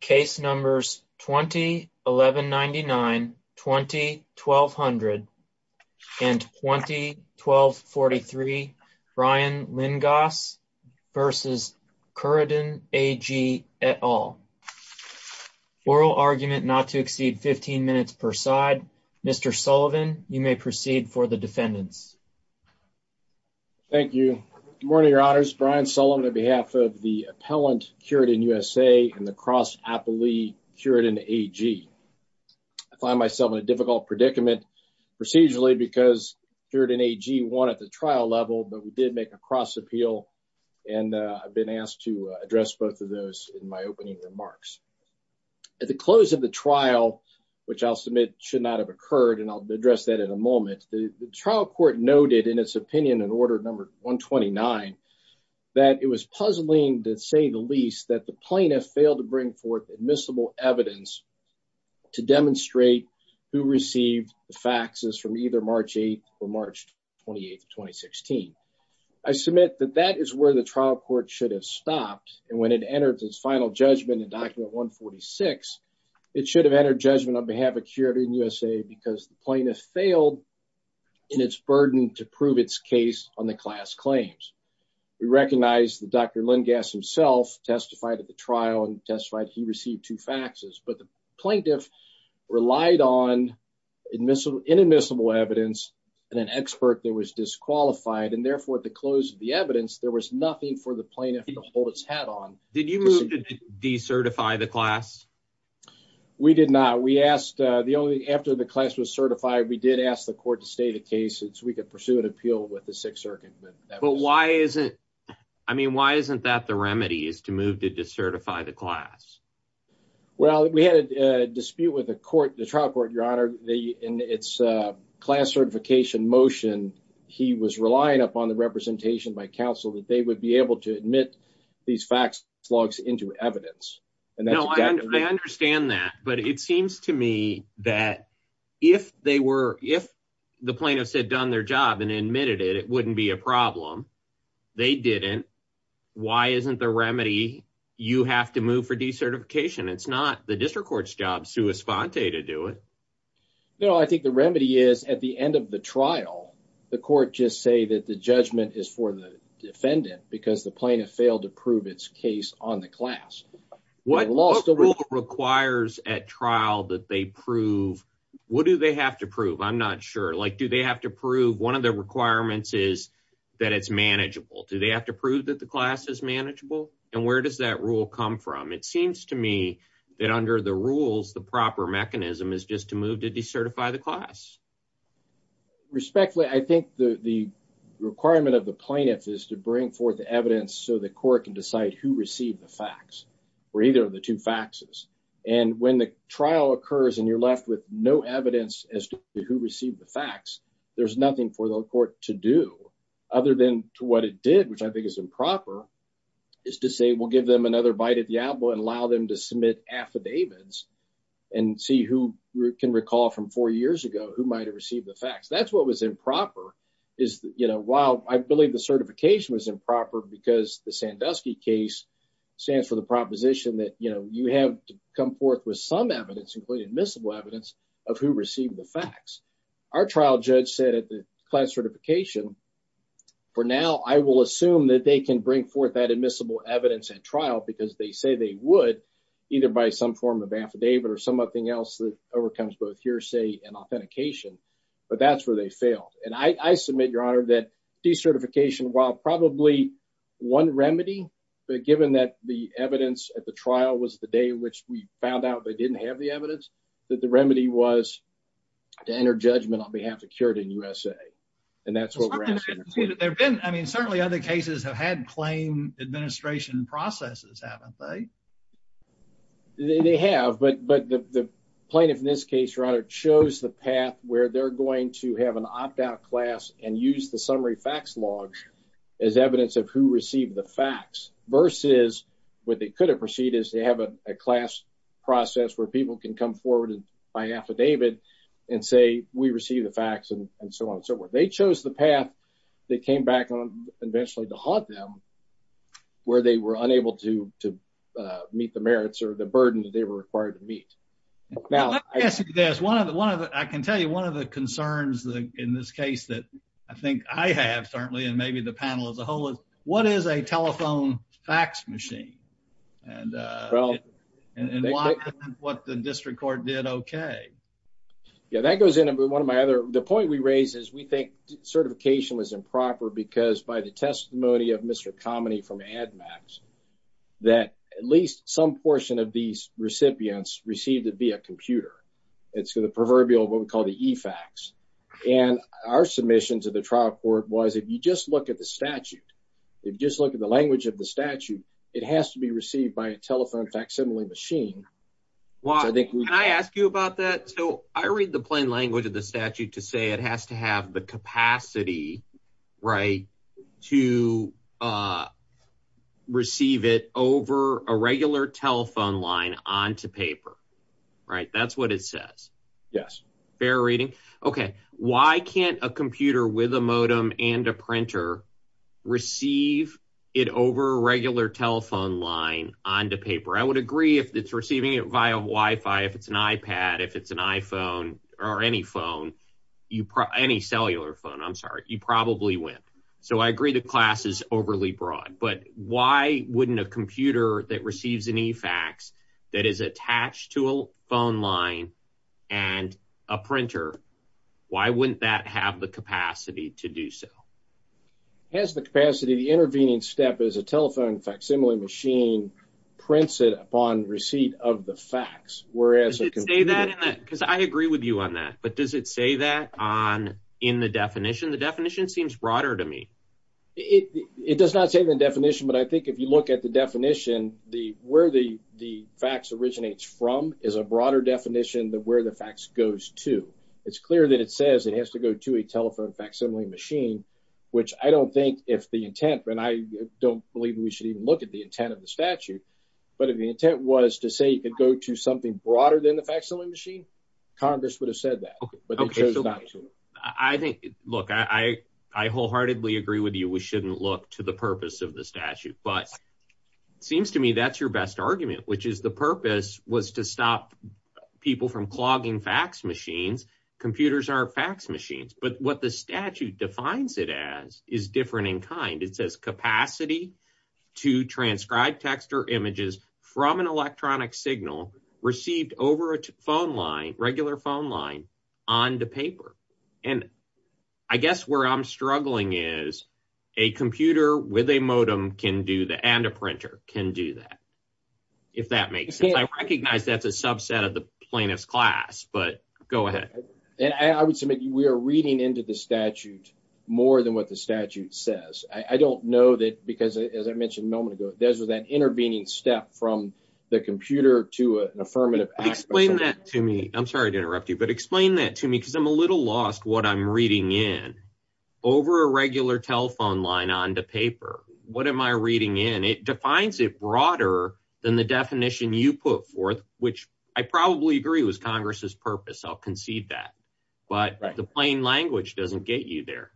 Case numbers 20-1199, 20-1200, and 20-1243, Ryan Lyngaas versus Curaden AG et al. Oral argument not to exceed 15 minutes per side. Mr. Sullivan, you may proceed for the defendants. Thank you. Good morning, your honors. Brian Sullivan on behalf of the appellant Curaden USA and the cross appellee Curaden AG. I find myself in a difficult predicament procedurally because Curaden AG won at the trial level, but we did make a cross appeal and I've been asked to address both of those in my opening remarks. At the close of the trial, which I'll submit should not have occurred, and I'll address that in a moment, the trial court noted in its opinion in order number 129 that it was puzzling to say the least that the plaintiff failed to bring forth admissible evidence to demonstrate who received the faxes from either March 8th or March 28th of 2016. I submit that that is where the trial court should have stopped and when it entered its final judgment in document 146, it should have entered judgment on behalf of to prove its case on the class claims. We recognize that Dr. Lengas himself testified at the trial and testified he received two faxes, but the plaintiff relied on inadmissible evidence and an expert that was disqualified and therefore at the close of the evidence, there was nothing for the plaintiff to hold his hat on. Did you move to decertify the class? We did not. We asked, after the class was certified, we did ask the court to state a since we could pursue an appeal with the Sixth Circuit. But why isn't, I mean, why isn't that the remedy is to move to decertify the class? Well, we had a dispute with the court, the trial court, your honor. In its class certification motion, he was relying upon the representation by counsel that they would be able to admit these fax logs into evidence. No, I understand that, but it seems to me that if they were, if the plaintiff said done their job and admitted it, it wouldn't be a problem. They didn't. Why isn't the remedy you have to move for decertification? It's not the district court's job, sua sponte, to do it. No, I think the remedy is at the end of the trial, the court just say that the judgment is for the defendant because the plaintiff failed to prove its case on the class. What law still requires at trial that they prove? What do they have to prove? I'm not sure. Like, do they have to prove one of the requirements is that it's manageable? Do they have to prove that the class is manageable? And where does that rule come from? It seems to me that under the rules, the proper mechanism is just to move to decertify the class. Respectfully, I think the requirement of the plaintiff is to bring forth evidence so the court can decide who received the facts or either of the two faxes. And when the trial occurs and you're left with no evidence as to who received the facts, there's nothing for the court to do other than to what it did, which I think is improper, is to say, we'll give them another bite at the apple and allow them to submit affidavits and see who can recall from four years ago who might have received the facts. That's what was improper is, you know, while I think the DUSKY case stands for the proposition that, you know, you have to come forth with some evidence, including admissible evidence, of who received the facts. Our trial judge said at the class certification for now, I will assume that they can bring forth that admissible evidence at trial because they say they would either by some form of affidavit or something else that overcomes both hearsay and authentication, but that's where they failed. And I submit, Your Honor, that decertification, while probably one remedy, but given that the evidence at the trial was the day in which we found out they didn't have the evidence, that the remedy was to enter judgment on behalf of Cured in USA. And that's what we're asking. I mean, certainly other cases have had claim administration processes, haven't they? They have, but the plaintiff in this case, Your Honor, chose the path where they're going to have an opt-out class and use the summary facts logs as evidence of who received the facts versus what they could have proceed is to have a class process where people can come forward by affidavit and say, we received the facts and so on and so forth. They chose the path that came back on eventually to haunt them, where they were unable to meet the merits or the burden that they were required to meet. Now, I can tell you one of the concerns in this case that I think I have certainly, and maybe the panel as a whole, is what is a telephone fax machine? And what the district court did okay. Yeah, that goes into one of my other, the point we raise is we think certification was improper because by the testimony of Mr. Comney from AdMax, that at least some portion of these recipients received it via computer. It's the proverbial, what we call the e-fax. And our submission to the trial court was, if you just look at the statute, if you just look at the language of the statute, it has to be received by a telephone facsimile machine. Can I ask you about that? So I read the plain language of the statute to say it has to have the capacity, right, to receive it over a regular telephone line onto paper, right? That's what it says. Yes. Fair reading. Okay. Why can't a computer with a modem and a printer receive it over a regular telephone line onto paper? I would agree if it's receiving it via Wi-Fi, if it's an iPad, if it's an iPhone or any phone, any cellular phone, I'm sorry, you probably wouldn't. So I agree the class is overly broad, but why wouldn't a computer that receives an e-fax that is attached to a phone line and a printer, why wouldn't that have the capacity to do so? It has the capacity. The intervening step is a telephone facsimile machine prints it upon receipt of the fax. Does it say that? Because I agree with you on that, but does it say that in the definition? The definition seems broader to me. It does not say in the definition, but I think if you look at the definition, where the fax originates from is a broader definition than where the fax goes to. It's clear that it says it has to go to a telephone facsimile machine, which I don't think if the of the statute, but if the intent was to say it could go to something broader than the facsimile machine, Congress would have said that, but they chose not to. I think, look, I wholeheartedly agree with you. We shouldn't look to the purpose of the statute, but it seems to me that's your best argument, which is the purpose was to stop people from clogging fax machines. Computers are fax machines, but what the statute defines it as is different in kind. It says capacity to transcribe text or images from an electronic signal received over a phone line, regular phone line onto paper, and I guess where I'm struggling is a computer with a modem can do that and a printer can do that, if that makes sense. I recognize that's a subset of the plaintiff's class, but go ahead. I would submit we are reading into the statute more than what the as I mentioned a moment ago. Those are that intervening step from the computer to an affirmative aspect. Explain that to me. I'm sorry to interrupt you, but explain that to me because I'm a little lost what I'm reading in over a regular telephone line onto paper. What am I reading in? It defines it broader than the definition you put forth, which I probably agree was Congress's purpose. I'll concede that, but the plain language doesn't get you there.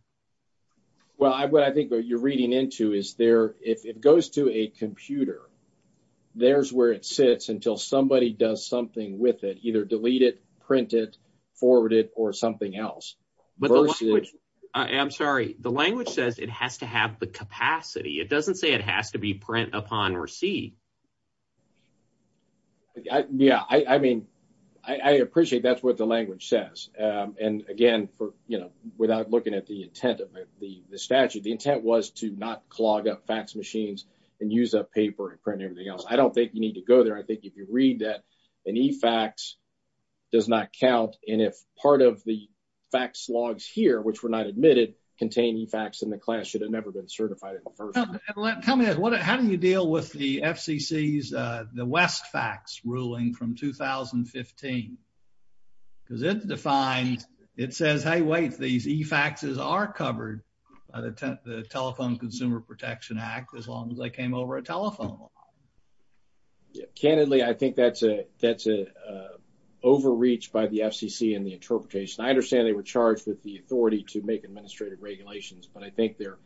Well, what I think what you're reading into is if it goes to a computer, there's where it sits until somebody does something with it, either delete it, print it, forward it, or something else. I'm sorry. The language says it has to have the capacity. It doesn't say it has to be print upon receipt. Yeah. I mean, I appreciate that's what the language says, and again, without looking at the intent of the statute, the intent was to not clog up fax machines and use up paper and print everything else. I don't think you need to go there. I think if you read that an e-fax does not count, and if part of the fax logs here, which were not admitted, contain e-fax in the class should have never been certified in the first place. Tell me how do you deal with the FCC's West fax ruling from 2015? Because it defines, it says, hey, wait, these e-faxes are covered by the Telephone Consumer Protection Act as long as they came over a telephone line. Yeah. Candidly, I think that's an overreach by the FCC in the interpretation. I understand they were charged with the authority to make administrative regulations, but I think they're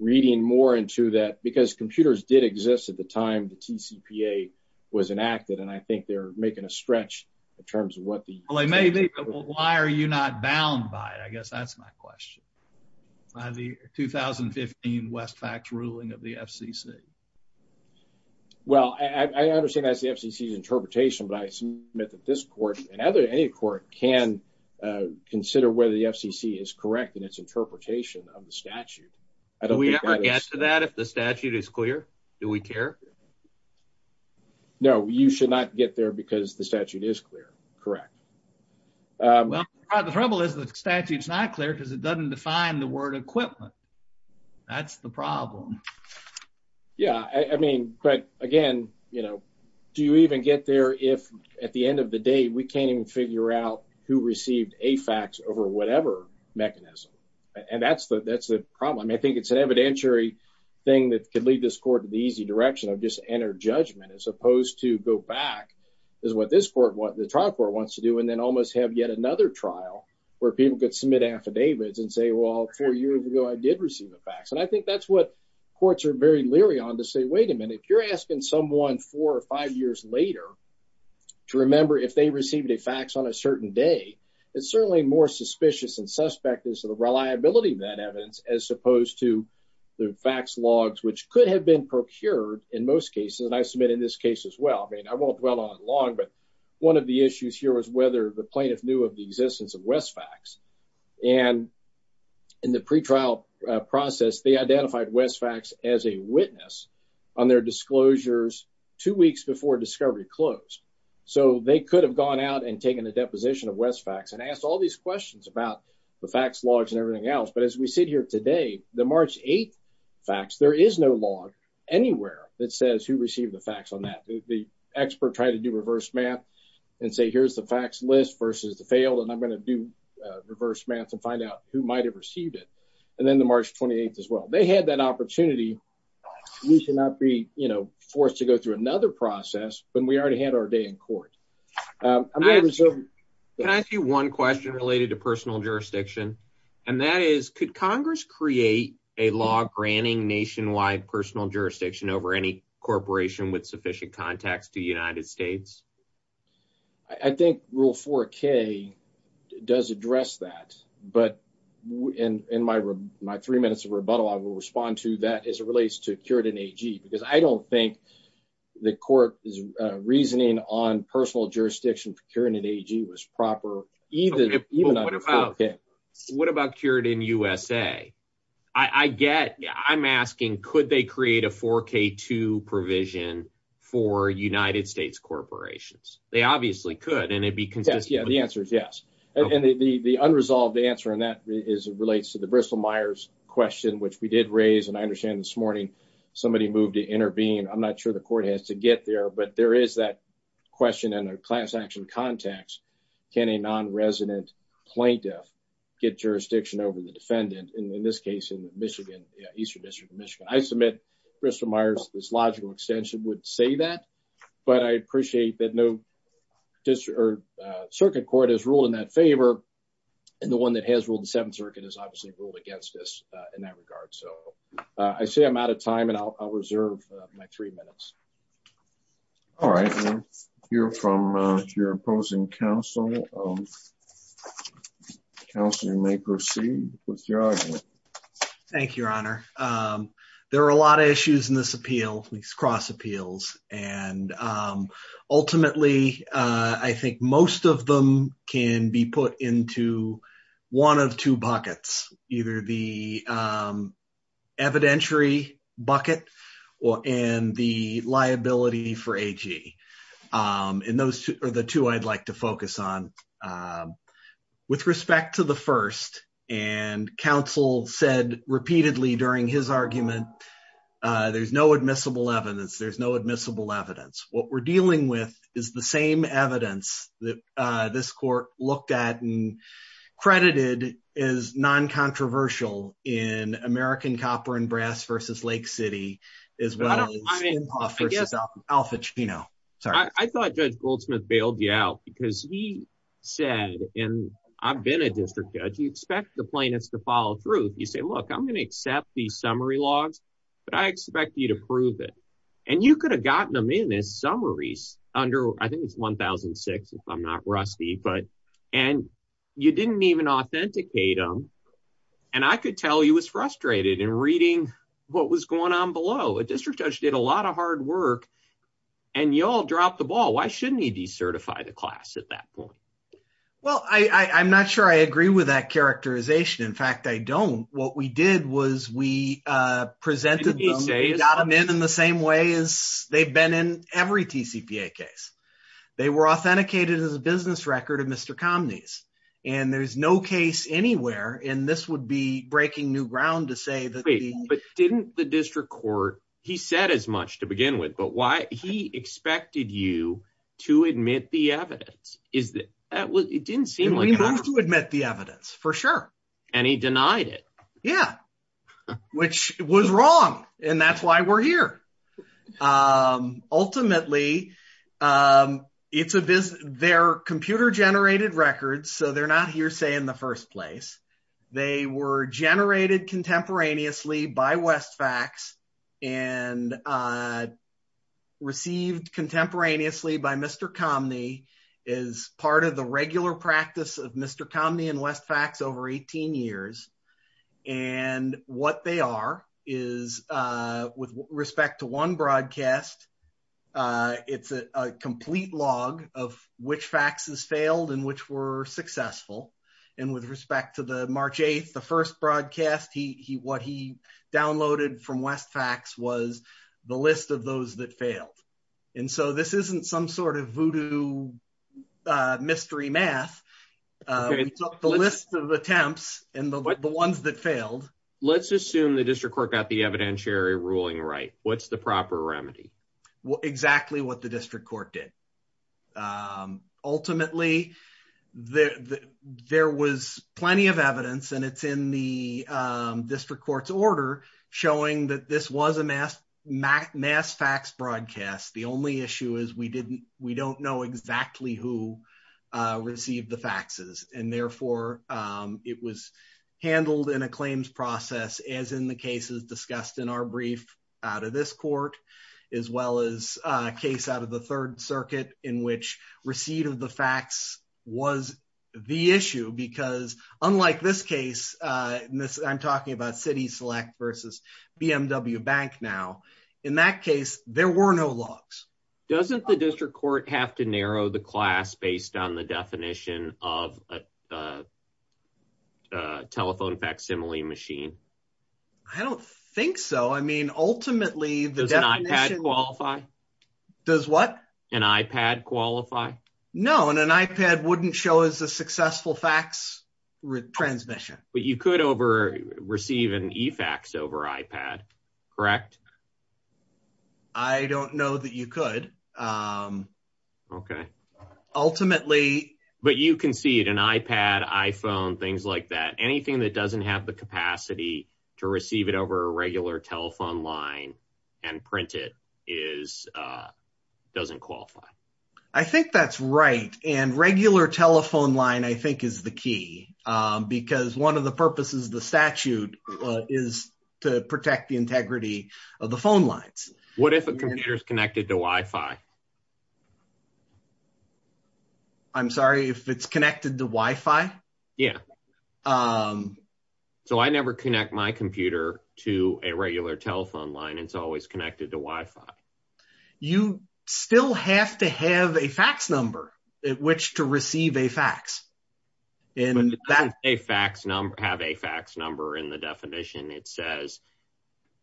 reading more into that because computers did exist at the time the TCPA was enacted, and I think they're making a stretch in terms of what the... Well, they may be, but why are you not bound by it? I guess that's my question, by the 2015 West fax ruling of the FCC. Well, I understand that's the FCC's interpretation, but I submit that this court and any court can consider whether the FCC is correct in its interpretation of the statute. Do we ever get to that if the statute is clear? Do we care? No, you should not get there because the statute is clear. Correct. Well, the trouble is the statute's not clear because it doesn't define the word equipment. That's the problem. Yeah. But again, do you even get there if at the end of the day, we can't even figure out who received a fax over whatever mechanism? And that's the problem. I think it's an evidentiary thing that could lead this court to the easy direction of just enter judgment as opposed to go back is what the trial court wants to do and then almost have yet another trial where people could submit affidavits and say, well, four years ago, I did receive a fax. And I think that's what courts are very leery on to wait a minute. You're asking someone four or five years later to remember if they received a fax on a certain day. It's certainly more suspicious and suspect is the reliability of that evidence as opposed to the fax logs, which could have been procured in most cases. And I submit in this case as well. I mean, I won't dwell on it long, but one of the issues here was whether the plaintiff knew of the existence of West facts and in the pretrial process, they identified West facts as a witness on their disclosures two weeks before discovery closed. So they could have gone out and taken a deposition of West facts and asked all these questions about the fax logs and everything else. But as we sit here today, the March 8th fax, there is no log anywhere that says who received the fax on that. The expert tried to do reverse math and say, here's the fax list versus the failed. And I'm going to do reverse math and find out who might have received it. And then the March 28th as well. They had that opportunity. We cannot be, you know, forced to go through another process when we already had our day in court. Can I ask you one question related to personal jurisdiction? And that is, could Congress create a law granting nationwide personal jurisdiction over any corporation with sufficient contacts to the United States? I think rule 4K does address that. But in my three minutes of rebuttal, I will respond to that as it relates to Curitin AG, because I don't think the court is reasoning on personal jurisdiction for Curitin AG was proper. What about Curitin USA? I'm asking, could they create a 4K2 provision for United States corporations? They obviously could, and it'd be consistent. Yeah, the answer is yes. And the unresolved answer in that is it relates to the Bristol-Myers question, which we did raise. And I understand this morning, somebody moved to intervene. I'm not sure the court has to get there, but there is that question in a class action context. Can a non-resident plaintiff get jurisdiction over the defendant? And in this case, in Michigan, Eastern District of Michigan, I submit Bristol- Myers, this logical extension would say that, but I appreciate that no circuit court has ruled in that favor. And the one that has ruled the Seventh Circuit has obviously ruled against us in that regard. So I say I'm out of time and I'll reserve my three minutes. All right. Hear from your counsel. Counselor, you may proceed with your argument. Thank you, Your Honor. There are a lot of issues in this appeal, these cross appeals. And ultimately, I think most of them can be put into one of two buckets, either the evidentiary bucket and the liability for AG. And those are two I'd like to focus on. With respect to the first, and counsel said repeatedly during his argument, there's no admissible evidence. There's no admissible evidence. What we're dealing with is the same evidence that this court looked at and credited as non-controversial in American He said, and I've been a district judge, you expect the plaintiffs to follow through. You say, look, I'm going to accept the summary logs, but I expect you to prove it. And you could have gotten them in as summaries under, I think it's 1006, if I'm not rusty, but, and you didn't even authenticate them. And I could tell he was frustrated in reading what was going on below. A district judge did a lot of hard work and y'all dropped the ball. Why shouldn't he decertify the class at that point? Well, I I'm not sure I agree with that characterization. In fact, I don't. What we did was we presented them in the same way as they've been in every TCPA case. They were authenticated as a business record of Mr. Comneys. And there's no case anywhere. And this would be he said as much to begin with, but why he expected you to admit the evidence is that it didn't seem like we moved to admit the evidence for sure. And he denied it. Yeah. Which was wrong. And that's why we're here. Ultimately, it's a business, they're computer generated records. So they're not hearsay in the first place. They were generated contemporaneously by Westfax and received contemporaneously by Mr. Comney is part of the regular practice of Mr. Comney and Westfax over 18 years. And what they are is with respect to one broadcast. It's a complete log of which faxes failed and which were successful. And with respect to the March 8th, the first broadcast, he what he downloaded from Westfax was the list of those that failed. And so this isn't some sort of voodoo mystery math. The list of attempts and the ones that failed. Let's assume the district court got the evidentiary ruling, right? What's the proper remedy? Well, exactly what the district court did. Ultimately, there was plenty of evidence and it's in the district court's order, showing that this was a mass mass mass fax broadcast. The only issue is we didn't, we don't know exactly who received the faxes. And therefore, it was handled in a claims process as in the cases discussed in our brief out of this court, as well as a case out of the third circuit in which receipt of the fax was the issue. Because unlike this case, I'm talking about city select versus BMW bank. Now, in that case, there were no logs. Doesn't the district court have to I don't think so. I mean, ultimately, does an iPad qualify? Does what an iPad qualify? No. And an iPad wouldn't show as a successful fax transmission, but you could over receive an e-fax over iPad, correct? I don't know that you could. Okay. Ultimately, but you can see it an to receive it over a regular telephone line and print it is doesn't qualify. I think that's right. And regular telephone line, I think is the key, because one of the purposes of the statute is to protect the integrity of the phone lines. What if a computer is connected to Wi-Fi? I'm sorry, if it's connected to Wi-Fi? Yeah. So I never connect my computer to a regular telephone line. It's always connected to Wi-Fi. You still have to have a fax number at which to receive a fax. And that a fax number have a fax number in the definition. It says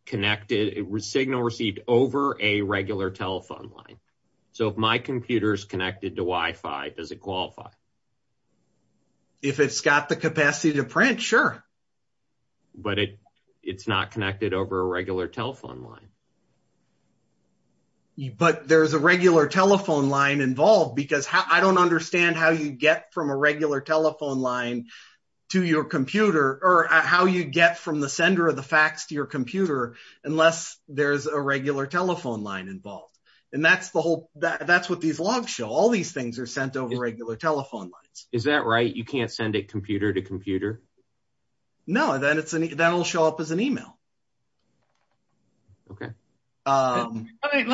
connected signal received over a regular telephone line. So if my computer is connected to Wi-Fi, does it qualify? If it's got the capacity to print, sure. But it's not connected over a regular telephone line. But there's a regular telephone line involved because I don't understand how you get from a regular telephone line to your computer or how you get from the sender of the fax to your computer, unless there's a regular telephone line involved. And that's the whole, that's what these logs show. All these things are sent over regular telephone lines. Is that right? You can't send a computer to computer? No, that'll show up as an email. Okay. Let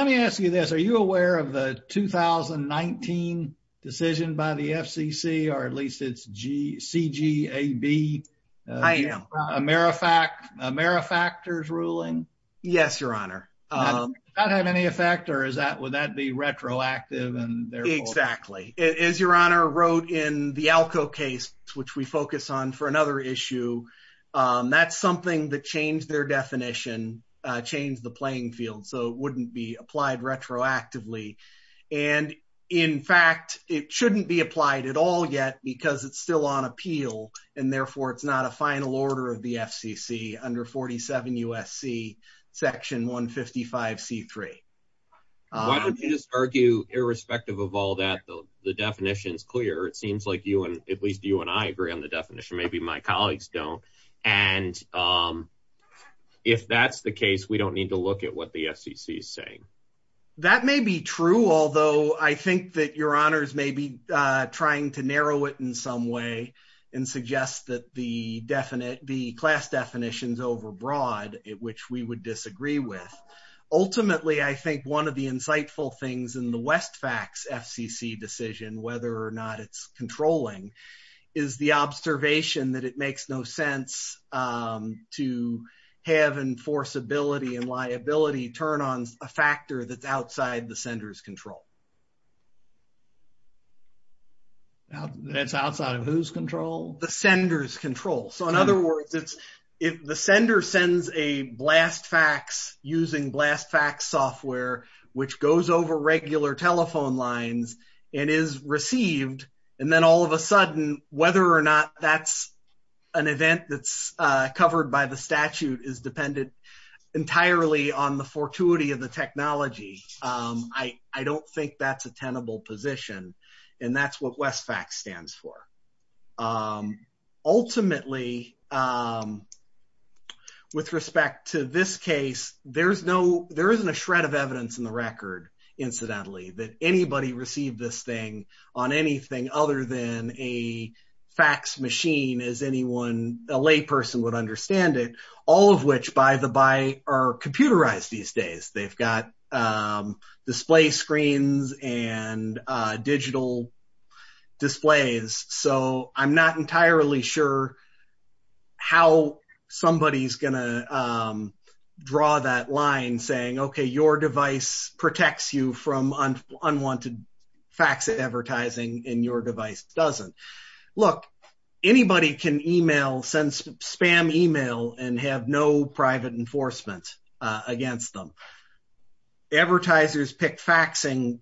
me ask you this. Are you aware of the 2019 decision by the FCC, or at least it's CGAB? I am. AmeriFactors ruling? Yes, your honor. That have any effect or is that, would that be retroactive? Exactly. As your honor wrote in the ALCO case, which we focus on for another issue, that's something that changed their definition, changed the playing field. So it wouldn't be applied retroactively. And in fact, it shouldn't be applied at all yet because it's still on appeal. And therefore it's not a final order of the FCC under 47 USC section 155 C3. Why don't you just argue irrespective of all that though, the definition is clear. It seems like you and at least you and I agree on the definition. Maybe my colleagues don't. And if that's the case, we don't need to look at what the FCC is saying. That may be true. Although I think that your honors may be trying to narrow it in some way and suggest that the definite, the class definitions overbroad, which we would disagree with. Ultimately, I think one of the insightful things in the Westfax FCC decision, whether or not it's controlling is the observation that it makes no sense to have enforceability and liability turn on a factor that's outside the sender's control. That's outside of whose control? The sender's control. So in other words, if the sender sends a blast fax using blast fax software, which goes over regular telephone lines and is received. And then all of a sudden, whether or not that's an event that's covered by the statute is dependent entirely on the fortuity of the technology. I don't think that's a tenable position. And that's what Westfax stands for. Ultimately, with respect to this case, there isn't a shred of evidence in the record, incidentally, that anybody received this thing on anything other than a fax machine as anyone, a lay person would understand it. All of which by the by are computerized these days. They've got display screens and digital displays. So I'm not entirely sure how somebody's gonna draw that line saying, okay, your device protects you from unwanted fax advertising and your device doesn't. Look, anybody can email, send spam email and have no private enforcement against them. Advertisers pick faxing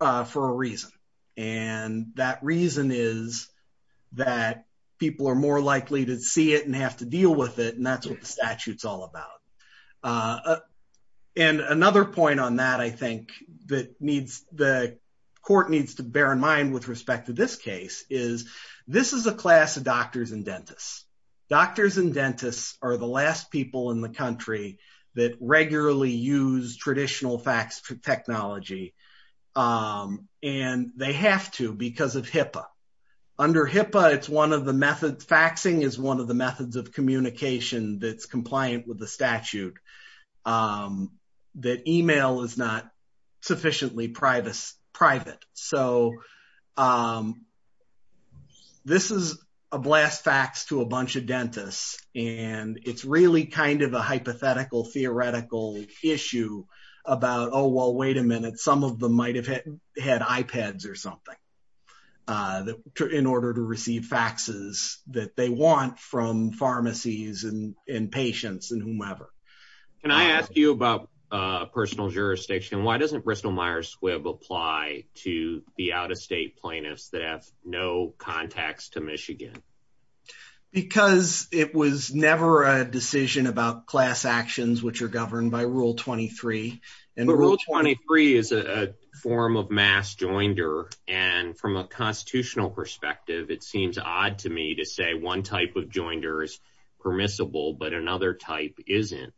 for a reason. And that reason is that people are more likely to see it and have to deal with it. And that's what the statute's all about. And another point on that, I think the court needs to bear in mind with respect to this case is this is a class of traditional fax technology. And they have to because of HIPAA. Under HIPAA, it's one of the methods faxing is one of the methods of communication that's compliant with the statute that email is not sufficiently private. So this is a blast fax to a bunch of dentists. And it's really kind of a hypothetical theoretical issue about, oh, well, wait a minute, some of them might have had iPads or something that in order to receive faxes that they want from pharmacies and in patients and whomever. Can I ask you about personal jurisdiction? Why doesn't Bristol Myers Squibb apply to the out of state plaintiffs that have no contacts to Michigan? Because it was never a decision about class actions, which are governed by Rule 23. And Rule 23 is a form of mass joinder. And from a constitutional perspective, it seems odd to me to say one type of joinder is permissible, but another type isn't.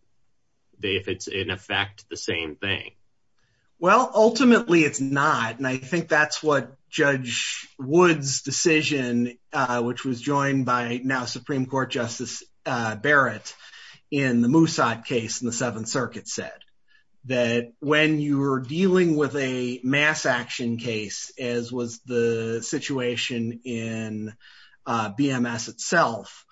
If it's in effect, the same thing. Well, ultimately, it's not. And I think that's what was joined by now Supreme Court Justice Barrett in the Moosad case in the Seventh Circuit said that when you are dealing with a mass action case, as was the situation in BMS itself,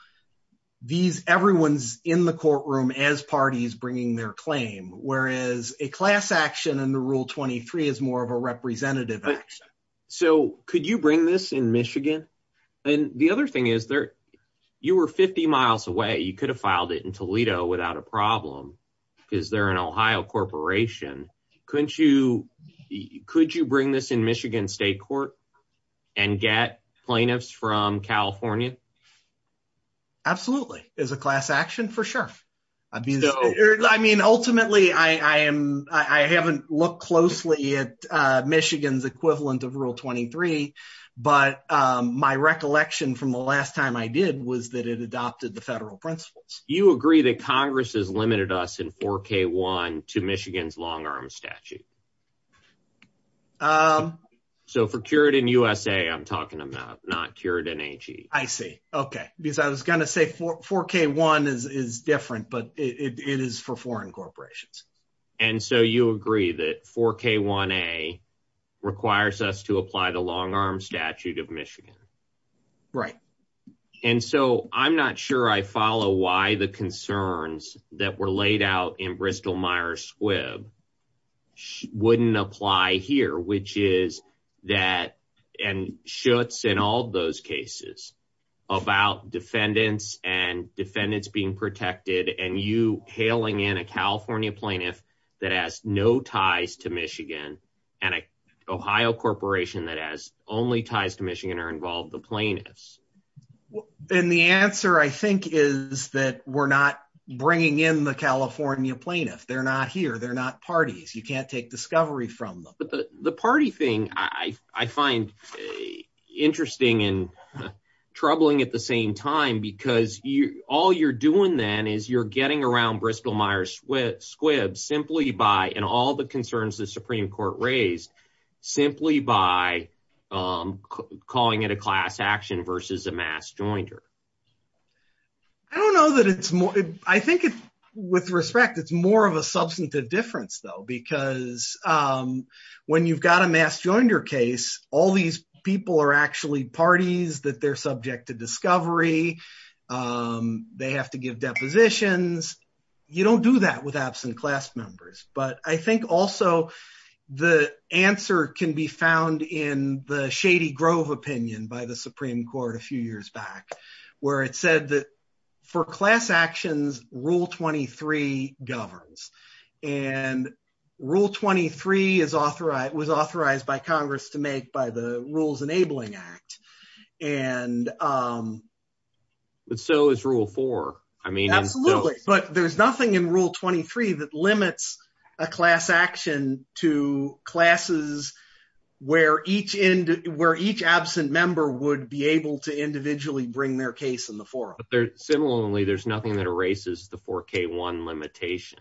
these everyone's in the courtroom as parties bringing their claim, whereas a class action in the Rule 23 is more of a representative action. So could you bring this in Michigan? And the other thing is, you were 50 miles away. You could have filed it in Toledo without a problem because they're an Ohio corporation. Could you bring this in Michigan State Court and get plaintiffs from California? Absolutely. As a class action, for sure. I mean, ultimately, I haven't looked closely at Michigan's equivalent of Rule 23, but my recollection from the last time I did was that it adopted the federal principles. You agree that Congress has limited us in 4K1 to Michigan's long-arm statute. So for Curitin USA, I'm talking about, not Curitin AG. I see. Okay. Because I was going to say 4K1 is different, but it is for foreign corporations. And so you agree that 4K1A requires us to apply the long-arm statute of Michigan. Right. And so I'm not sure I follow why the concerns that were laid out in Bristol-Myers Squibb wouldn't apply here, which is that, and Schutz in all those cases about defendants and defendants being protected and you in a California plaintiff that has no ties to Michigan and an Ohio corporation that has only ties to Michigan are involved the plaintiffs. And the answer I think is that we're not bringing in the California plaintiff. They're not here. They're not parties. You can't take discovery from them. The party thing I find interesting and troubling at the same time, because all you're doing then is you're getting around Bristol-Myers Squibb simply by, in all the concerns the Supreme Court raised, simply by calling it a class action versus a mass joinder. I don't know that it's more, I think with respect, it's more of a substantive difference though, because when you've got a mass joinder case, all these people are actually parties that they're subject to discovery. They have to give depositions. You don't do that with absent class members. But I think also the answer can be found in the Shady Grove opinion by the Supreme Court a few years back, where it said that for class actions, Rule 23 governs. And Rule 23 was authorized by Congress to make by the Rules Enabling Act. But so is Rule 4. Absolutely, but there's nothing in Rule 23 that limits a class action to classes where each absent member would be able to individually bring their case in the forum. Similarly, there's nothing that erases the 4k1 limitation.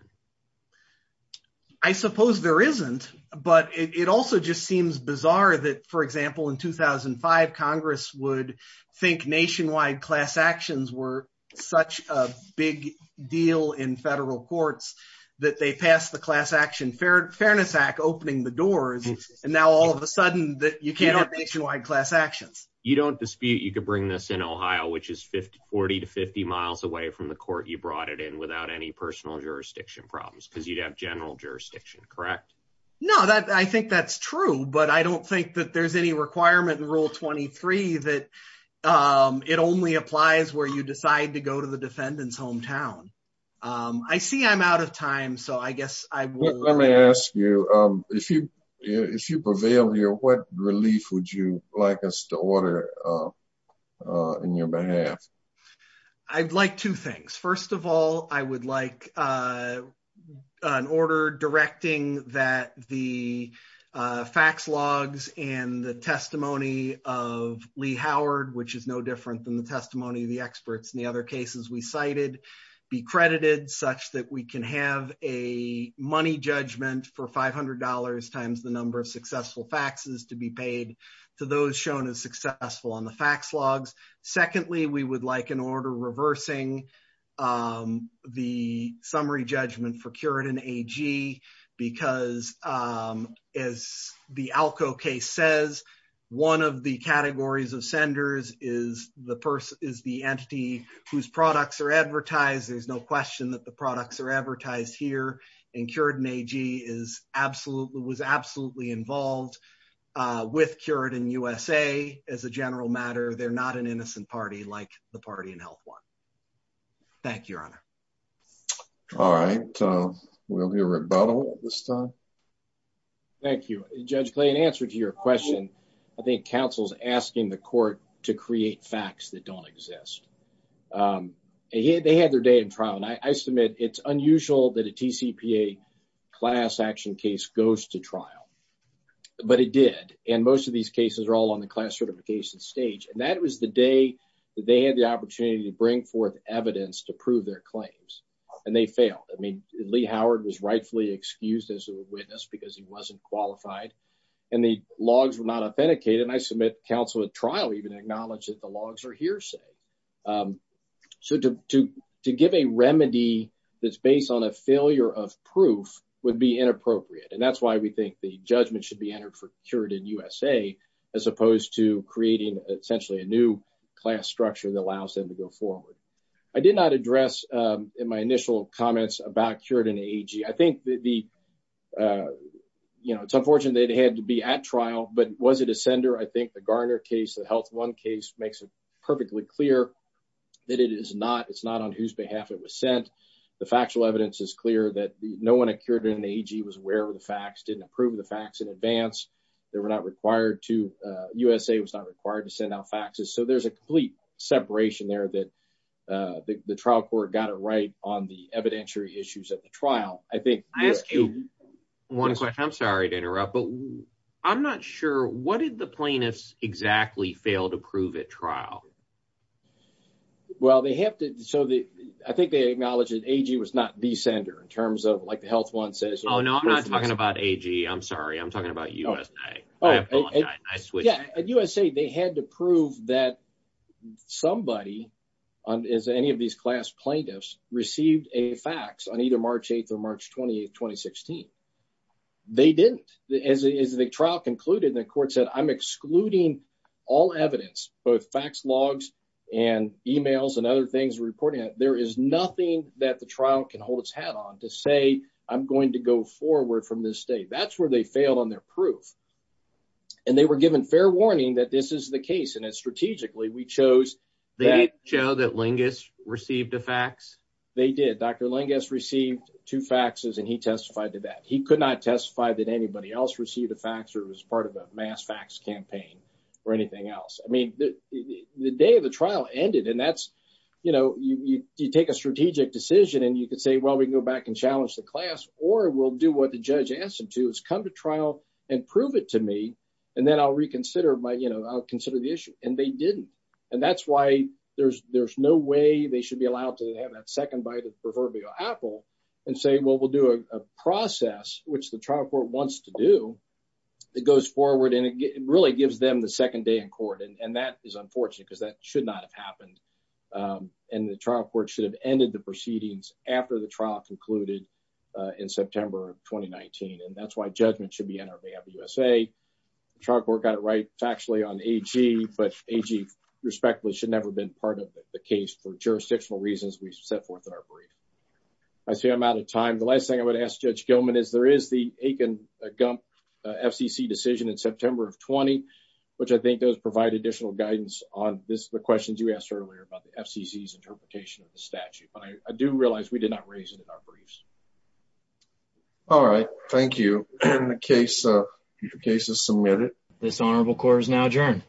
I suppose there isn't, but it also just seems bizarre that, for example, in 2005, Congress would think nationwide class actions were such a big deal in federal courts that they passed the class action Fairness Act, opening the doors, and now all of a sudden that you can't have nationwide class actions. You don't dispute you could bring this in Ohio, which is 40 to 50 miles away from the court you brought it in without any personal jurisdiction problems because you'd have general jurisdiction, correct? No, that I think that's true. But I don't think that there's any requirement in Rule 23 that it only applies where you decide to go to the defendant's hometown. I see I'm out of time. So I guess I will let me ask you, if you if you prevail here, what relief would you like us to offer in your behalf? I'd like two things. First of all, I would like an order directing that the fax logs and the testimony of Lee Howard, which is no different than the testimony of the experts in the other cases we cited, be credited such that we can have a money judgment for $500 times the successful faxes to be paid to those shown as successful on the fax logs. Secondly, we would like an order reversing the summary judgment for Curitin AG because as the ALCO case says, one of the categories of senders is the person is the entity whose products are advertised. There's no question that the products are advertised here and Curitin AG is absolutely was absolutely involved with Curitin USA as a general matter. They're not an innocent party like the party in Health One. Thank you, Your Honor. All right, we'll hear rebuttal this time. Thank you, Judge Clay. In answer to your question, I think counsel's asking the court to create facts that don't exist. They had their day in trial and I submit it's unusual that a TCPA class action case goes to trial, but it did and most of these cases are all on the class certification stage and that was the day that they had the opportunity to bring forth evidence to prove their claims and they failed. I mean, Lee Howard was rightfully excused as a witness because he wasn't qualified and the logs were not authenticated and I submit counsel at trial even acknowledged that the logs are hearsay. So to give a remedy that's based on a failure of proof would be inappropriate and that's why we think the judgment should be entered for Curitin USA as opposed to creating essentially a new class structure that allows them to go forward. I did not address in my initial comments about Curitin AG. I think that the, you know, it's unfortunate they had to be at trial, but was I think the Garner case, the health one case makes it perfectly clear that it is not, it's not on whose behalf it was sent. The factual evidence is clear that no one at Curitin AG was aware of the facts, didn't approve the facts in advance. They were not required to, USA was not required to send out faxes. So there's a complete separation there that the trial court got it right on the evidentiary issues at the trial. I think I asked you one question. I'm sorry to interrupt, but I'm not sure what did the plaintiffs exactly fail to prove at trial? Well, they have to, so the, I think they acknowledged that AG was not the sender in terms of like the health one says. Oh no, I'm not talking about AG. I'm sorry. I'm talking about USA. At USA they had to prove that somebody on, as any of these class plaintiffs received a fax on either March 8th or March 28th, 2016. They didn't. As the trial concluded, the court said, I'm excluding all evidence, both fax logs and emails and other things reporting that there is nothing that the trial can hold its head on to say, I'm going to go forward from this state. That's where they failed on their proof. And they were given fair warning that this is the case. And it's strategically, we chose. They did show that Lingus received a fax. They did. Dr. Lingus received two faxes and he testified to that. He could not testify that anybody else received a fax or it was part of a mass fax campaign or anything else. I mean, the day of the trial ended and that's, you know, you take a strategic decision and you could say, well, we can go back and challenge the class or we'll do what the judge asked him to. It's come to trial and prove it to me. And then I'll reconsider my, you know, I'll consider the issue. And they didn't. And that's why there's, there's no way they should be allowed to have that second bite of proverbial apple and say, well, we'll do a process, which the trial court wants to do. It goes forward and it really gives them the second day in court. And that is unfortunate because that should not have happened. And the trial court should have ended the USA. The trial court got it right factually on AG, but AG respectfully should never have been part of the case for jurisdictional reasons we've set forth in our brief. I see I'm out of time. The last thing I would ask judge Gilman is there is the Aiken-Gump FCC decision in September of 20, which I think those provide additional guidance on this. The questions you asked earlier about the FCC's interpretation of the statute, but I do realize we did not raise it in our briefs. All right. Thank you. The case is submitted. This honorable court is now adjourned.